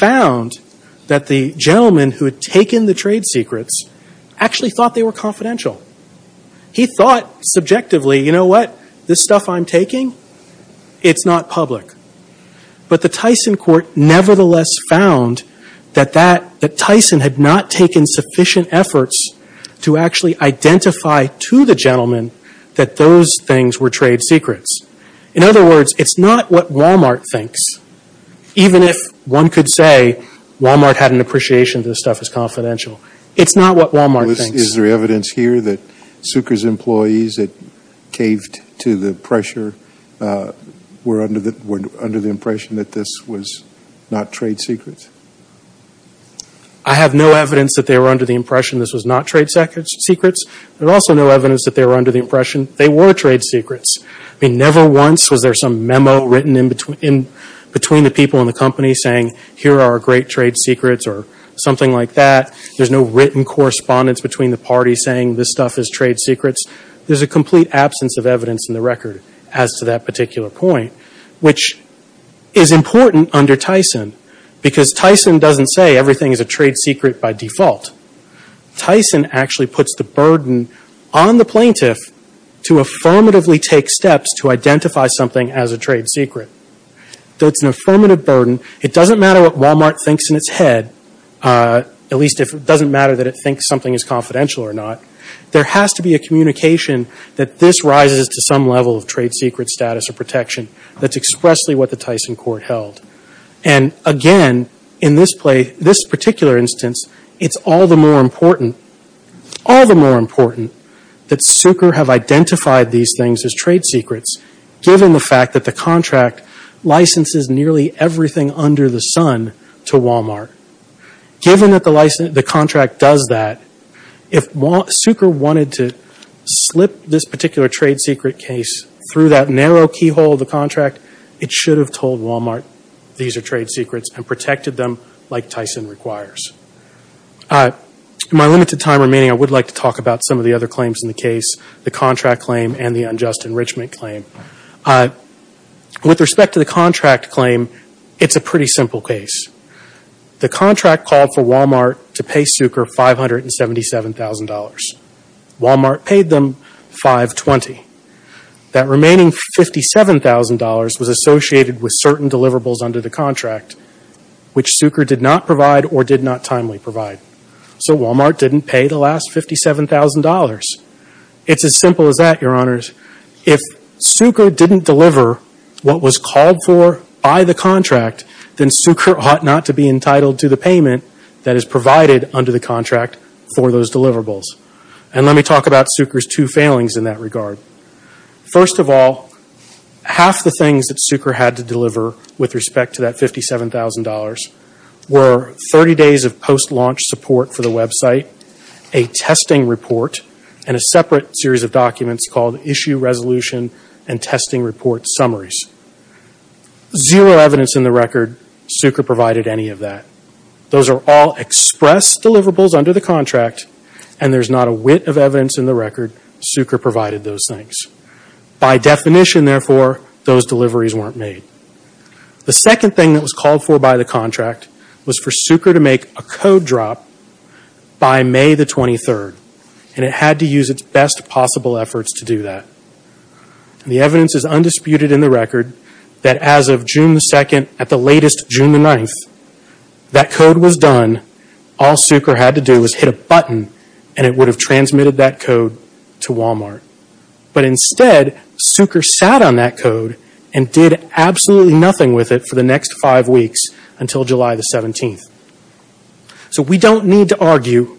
found that the gentleman who had taken the trade secrets actually thought they were confidential. He thought subjectively, you know what, this stuff I'm taking, it's not public. But the Tyson court nevertheless found that Tyson had not taken sufficient efforts to actually identify to the gentleman that those things were trade secrets. In other words, it's not what Walmart thinks. Even if one could say Walmart had an appreciation of this stuff as confidential. It's not what Walmart thinks. Is there evidence here that Sucre's employees that caved to the pressure were under the impression that this was not trade secrets? I have no evidence that they were under the impression this was not trade secrets. There's also no evidence that they were under the impression they were trade secrets. I mean, never once was there some memo written in between the people in the company saying, here are our great trade secrets or something like that. There's no written correspondence between the parties saying this stuff is trade secrets. There's a complete absence of evidence in the record as to that particular point, which is important under Tyson because Tyson doesn't say everything is a trade secret by default. Tyson actually puts the burden on the plaintiff to affirmatively take steps to identify something as a trade secret. That's an affirmative burden. It doesn't matter what Walmart thinks in its head. At least it doesn't matter that it thinks something is confidential or not. There has to be a communication that this rises to some level of trade secret status or protection. That's expressly what the Tyson court held. And again, in this particular instance, it's all the more important that Sucre have identified these things as trade secrets, given the fact that the contract licenses nearly everything under the sun to Walmart. Given that the contract does that, if Sucre wanted to slip this particular trade secret case through that narrow keyhole of the contract, it should have told Walmart these are trade secrets and protected them like Tyson requires. In my limited time remaining, I would like to talk about some of the other claims in the case, the contract claim and the unjust enrichment claim. With respect to the contract claim, it's a pretty simple case. The contract called for Walmart to pay Sucre $577,000. Walmart paid them $520,000. That remaining $57,000 was associated with certain deliverables under the contract, which Sucre did not provide or did not timely provide. So Walmart didn't pay the last $57,000. It's as simple as that, Your Honors. If Sucre didn't deliver what was called for by the contract, then Sucre ought not to be entitled to the payment that is provided under the contract for those deliverables. And let me talk about Sucre's two failings in that regard. First of all, half the things that Sucre had to deliver with respect to that $57,000 were 30 days of post-launch support for the website, a testing report, and a separate series of documents called Issue Resolution and Testing Report Summaries. Zero evidence in the record Sucre provided any of that. Those are all express deliverables under the contract, and there's not a whit of evidence in the record Sucre provided those things. By definition, therefore, those deliveries weren't made. The second thing that was called for by the contract was for Sucre to make a code drop by May 23rd, and it had to use its best possible efforts to do that. The evidence is undisputed in the record that as of June 2nd, at the latest June 9th, that code was done. All Sucre had to do was hit a button, and it would have transmitted that code to Walmart. But instead, Sucre sat on that code and did absolutely nothing with it for the next five weeks until July 17th. So we don't need to argue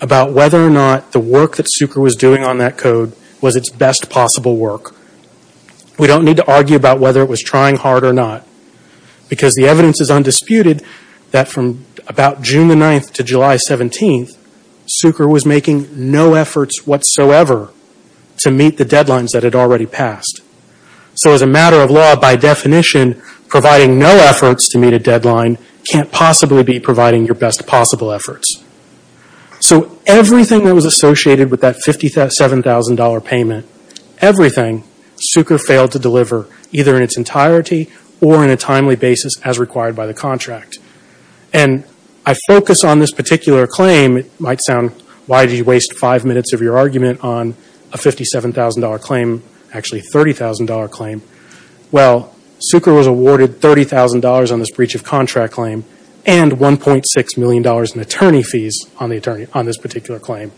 about whether or not the work that Sucre was doing on that code was its best possible work. We don't need to argue about whether it was trying hard or not, because the evidence is undisputed that from about June 9th to July 17th, Sucre was making no efforts whatsoever to meet the deadlines that had already passed. So as a matter of law, by definition, providing no efforts to meet a deadline can't possibly be providing your best possible efforts. So everything that was associated with that $57,000 payment, everything, Sucre failed to deliver either in its entirety or in a timely basis as required by the contract. I focus on this particular claim. It might sound, why did you waste five minutes of your argument on a $57,000 claim, actually a $30,000 claim? Well, Sucre was awarded $30,000 on this breach of contract claim and $1.6 million in attorney fees on this particular claim.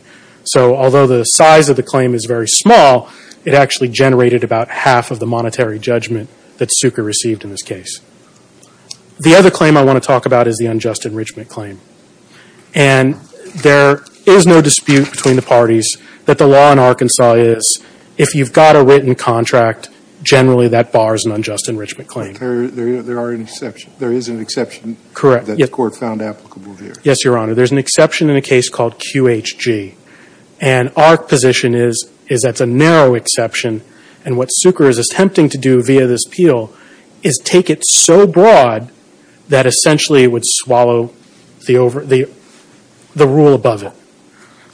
So although the size of the claim is very small, it actually generated about half of the monetary judgment that Sucre received in this case. The other claim I want to talk about is the unjust enrichment claim. And there is no dispute between the parties that the law in Arkansas is, if you've got a written contract, generally that bars an unjust enrichment claim. There is an exception that the court found applicable here. Yes, Your Honor. There's an exception in a case called QHG. And our position is that's a narrow exception, and what Sucre is attempting to do via this appeal is take it so broad that essentially it would swallow the rule above it.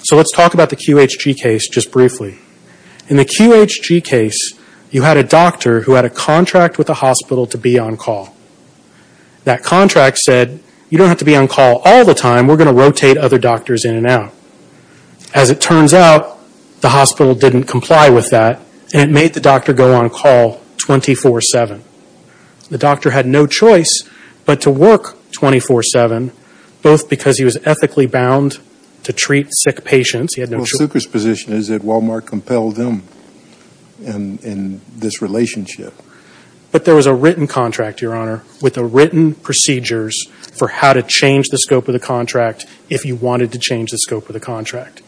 So let's talk about the QHG case just briefly. In the QHG case, you had a doctor who had a contract with a hospital to be on call. That contract said, you don't have to be on call all the time. We're going to rotate other doctors in and out. As it turns out, the hospital didn't comply with that, and it made the doctor go on call 24-7. The doctor had no choice but to work 24-7, both because he was ethically bound to treat sick patients. Well, Sucre's position is that Walmart compelled him in this relationship. But there was a written contract, Your Honor, with the written procedures for how to change the scope of the contract if he wanted to change the scope of the contract.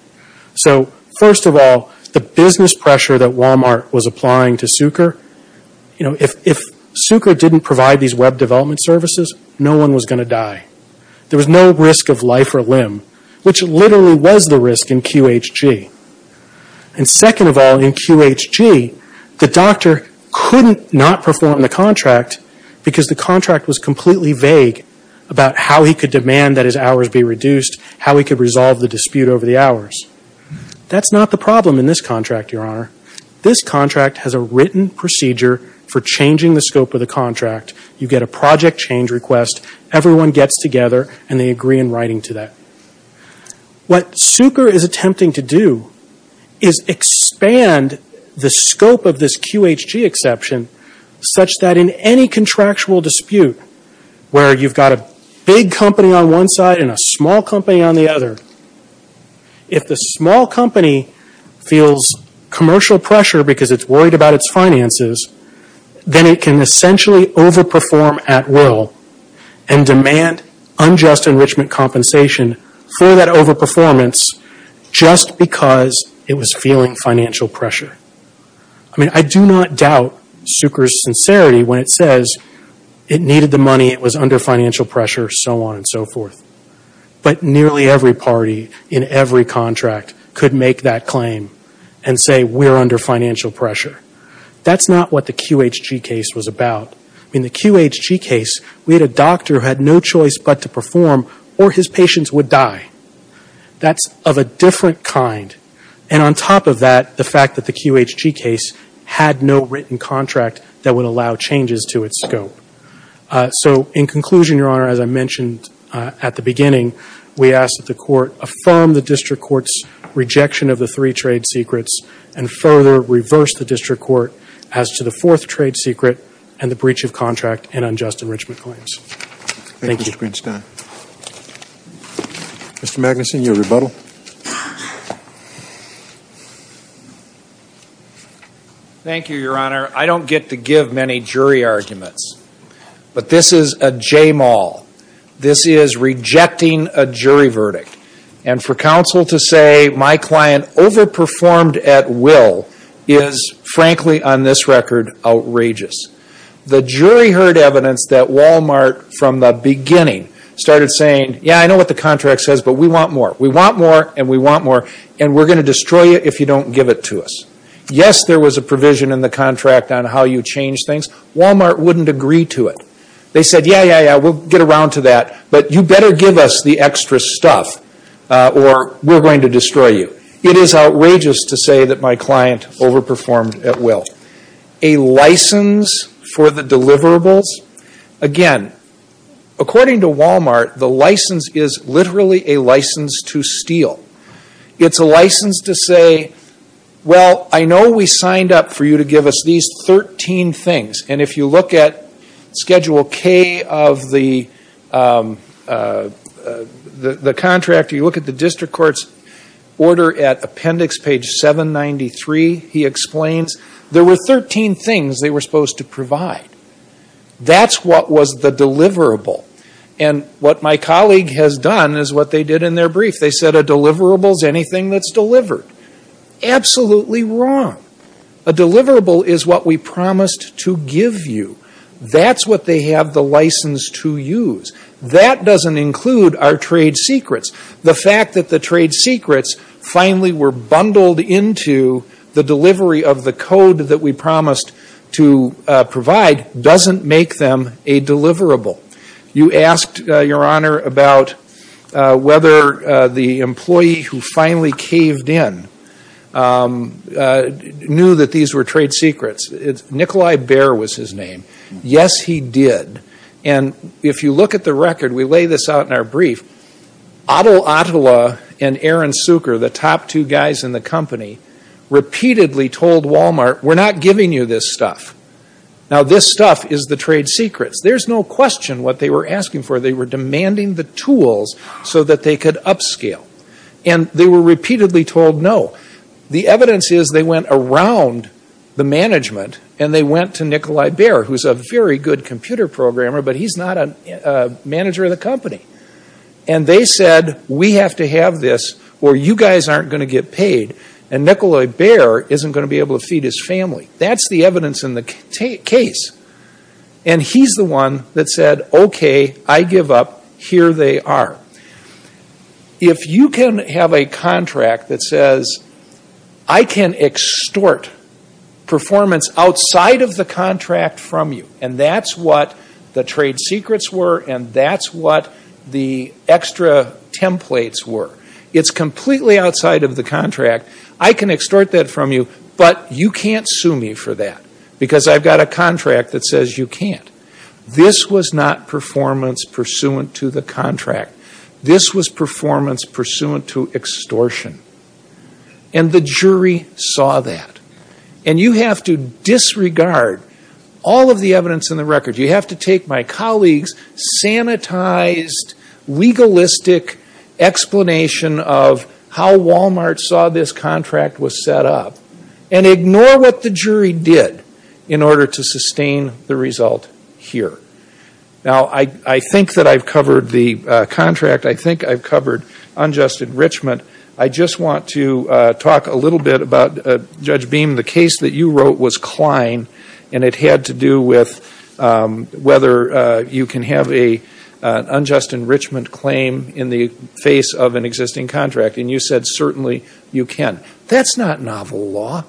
So first of all, the business pressure that Walmart was applying to Sucre, if Sucre didn't provide these web development services, no one was going to die. There was no risk of life or limb, which literally was the risk in QHG. And second of all, in QHG, the doctor couldn't not perform the contract because the contract was completely vague about how he could demand that his hours be reduced, how he could resolve the dispute over the hours. That's not the problem in this contract, Your Honor. This contract has a written procedure for changing the scope of the contract. You get a project change request. Everyone gets together, and they agree in writing to that. What Sucre is attempting to do is expand the scope of this QHG exception such that in any contractual dispute where you've got a big company on one side and a small company on the other, if the small company feels commercial pressure because it's worried about its finances, then it can essentially overperform at will and demand unjust enrichment compensation for that overperformance just because it was feeling financial pressure. I mean, I do not doubt Sucre's sincerity when it says it needed the money, it was under financial pressure, so on and so forth. But nearly every party in every contract could make that claim and say we're under financial pressure. That's not what the QHG case was about. In the QHG case, we had a doctor who had no choice but to perform, or his patients would die. That's of a different kind. And on top of that, the fact that the QHG case had no written contract that would allow changes to its scope. So in conclusion, Your Honor, as I mentioned at the beginning, we ask that the court affirm the district court's rejection of the three trade secrets and further reverse the district court as to the fourth trade secret and the breach of contract and unjust enrichment claims. Thank you. Thank you, Mr. Greenstein. Mr. Magnuson, your rebuttal. Thank you, Your Honor. I don't get to give many jury arguments, but this is a j-mal. This is rejecting a jury verdict. And for counsel to say my client overperformed at will is, frankly, on this record, outrageous. The jury heard evidence that Walmart, from the beginning, started saying, yeah, I know what the contract says, but we want more. We want more, and we want more, and we're going to destroy you if you don't give it to us. Yes, there was a provision in the contract on how you change things. Walmart wouldn't agree to it. They said, yeah, yeah, yeah, we'll get around to that, but you better give us the extra stuff or we're going to destroy you. It is outrageous to say that my client overperformed at will. A license for the deliverables. Again, according to Walmart, the license is literally a license to steal. It's a license to say, well, I know we signed up for you to give us these 13 things, and if you look at Schedule K of the contract, or you look at the district court's order at appendix page 793, he explains, there were 13 things they were supposed to provide. That's what was the deliverable. And what my colleague has done is what they did in their brief. They said a deliverable is anything that's delivered. Absolutely wrong. A deliverable is what we promised to give you. That's what they have the license to use. That doesn't include our trade secrets. The fact that the trade secrets finally were bundled into the delivery of the code that we promised to provide doesn't make them a deliverable. You asked, Your Honor, about whether the employee who finally caved in knew that these were trade secrets. Nikolai Bear was his name. Yes, he did. And if you look at the record, we lay this out in our brief, Adel Adela and Aaron Sucre, the top two guys in the company, repeatedly told Walmart, we're not giving you this stuff. Now, this stuff is the trade secrets. There's no question what they were asking for. They were demanding the tools so that they could upscale. And they were repeatedly told no. The evidence is they went around the management, and they went to Nikolai Bear, who's a very good computer programmer, but he's not a manager of the company. And they said, we have to have this or you guys aren't going to get paid. And Nikolai Bear isn't going to be able to feed his family. That's the evidence in the case. And he's the one that said, okay, I give up. Here they are. If you can have a contract that says, I can extort performance outside of the contract from you, and that's what the trade secrets were, and that's what the extra templates were. It's completely outside of the contract. I can extort that from you, but you can't sue me for that, because I've got a contract that says you can't. This was not performance pursuant to the contract. This was performance pursuant to extortion. And the jury saw that. And you have to disregard all of the evidence in the record. You have to take my colleague's sanitized, legalistic explanation of how Walmart saw this contract was set up, and ignore what the jury did in order to sustain the result here. Now, I think that I've covered the contract. I think I've covered unjust enrichment. I just want to talk a little bit about, Judge Beam, the case that you wrote was Klein, and it had to do with whether you can have an unjust enrichment claim in the face of an existing contract. And you said certainly you can. But that's not novel law.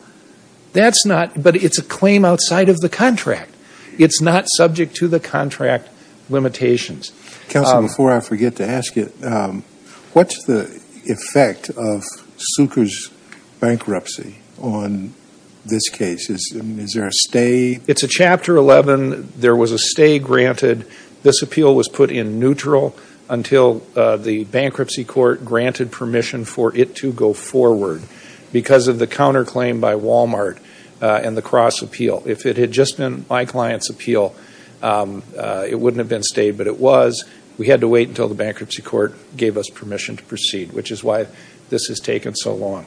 But it's a claim outside of the contract. It's not subject to the contract limitations. Counsel, before I forget to ask you, what's the effect of Zucker's bankruptcy on this case? Is there a stay? It's a Chapter 11. There was a stay granted. This appeal was put in neutral until the bankruptcy court granted permission for it to go forward because of the counterclaim by Walmart and the cross appeal. If it had just been my client's appeal, it wouldn't have been stayed, but it was. We had to wait until the bankruptcy court gave us permission to proceed, which is why this has taken so long.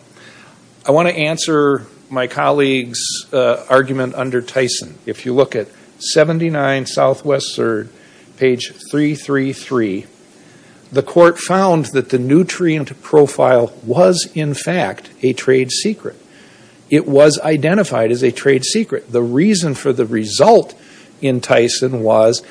I want to answer my colleague's argument under Tyson. If you look at 79 Southwest 3rd, page 333, the court found that the nutrient profile was, in fact, a trade secret. It was identified as a trade secret. The reason for the result in Tyson was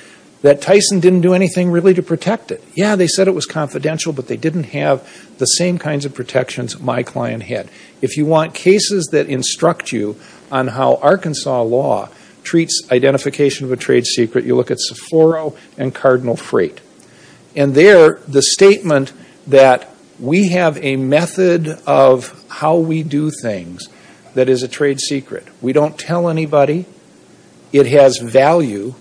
that Tyson didn't do anything really to protect it. Yeah, they said it was confidential, but they didn't have the same kinds of protections my client had. If you want cases that instruct you on how Arkansas law treats identification of a trade secret, you look at Sephora and Cardinal Freight. And there, the statement that we have a method of how we do things that is a trade secret. We don't tell anybody. It has value,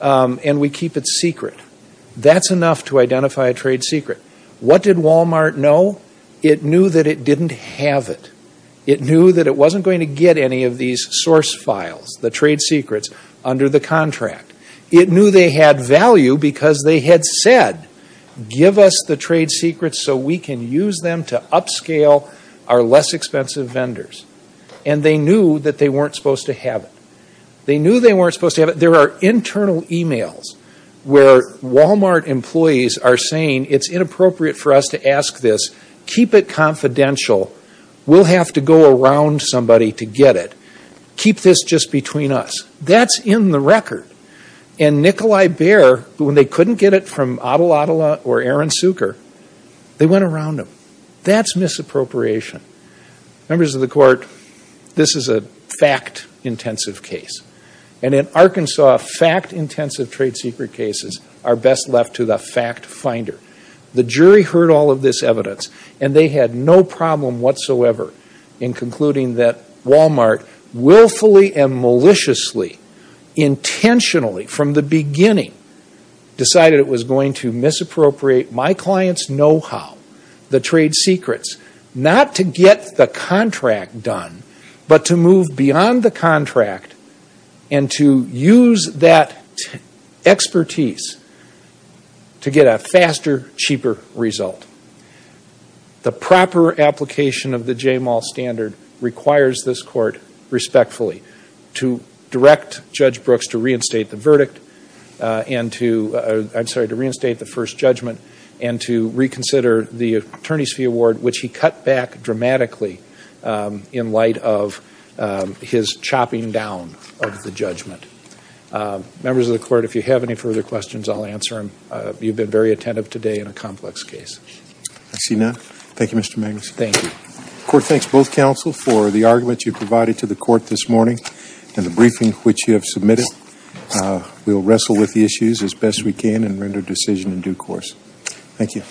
and we keep it secret. That's enough to identify a trade secret. What did Walmart know? It knew that it didn't have it. It knew that it wasn't going to get any of these source files, the trade secrets, under the contract. It knew they had value because they had said, give us the trade secrets so we can use them to upscale our less expensive vendors. And they knew that they weren't supposed to have it. They knew they weren't supposed to have it. There are internal emails where Walmart employees are saying, it's inappropriate for us to ask this. Keep it confidential. We'll have to go around somebody to get it. Keep this just between us. That's in the record. And Nikolai Baer, when they couldn't get it from Adel Adela or Aaron Suker, they went around him. That's misappropriation. Members of the court, this is a fact-intensive case. And in Arkansas, fact-intensive trade secret cases are best left to the fact-finder. The jury heard all of this evidence, and they had no problem whatsoever in concluding that Walmart willfully and maliciously, intentionally, from the beginning, decided it was going to misappropriate my client's know-how, the trade secrets, not to get the contract done, but to move beyond the contract and to use that expertise to get a faster, cheaper result. The proper application of the J-Mall standard requires this court, respectfully, to direct Judge Brooks to reinstate the verdict and to, I'm sorry, to reinstate the first judgment and to reconsider the attorney's fee award, which he cut back dramatically in light of his chopping down of the judgment. Members of the court, if you have any further questions, I'll answer them. You've been very attentive today in a complex case. I see none. Thank you, Mr. Magnus. Thank you. The court thanks both counsel for the argument you provided to the court this morning and the briefing which you have submitted. We will wrestle with the issues as best we can and render a decision in due course. Thank you.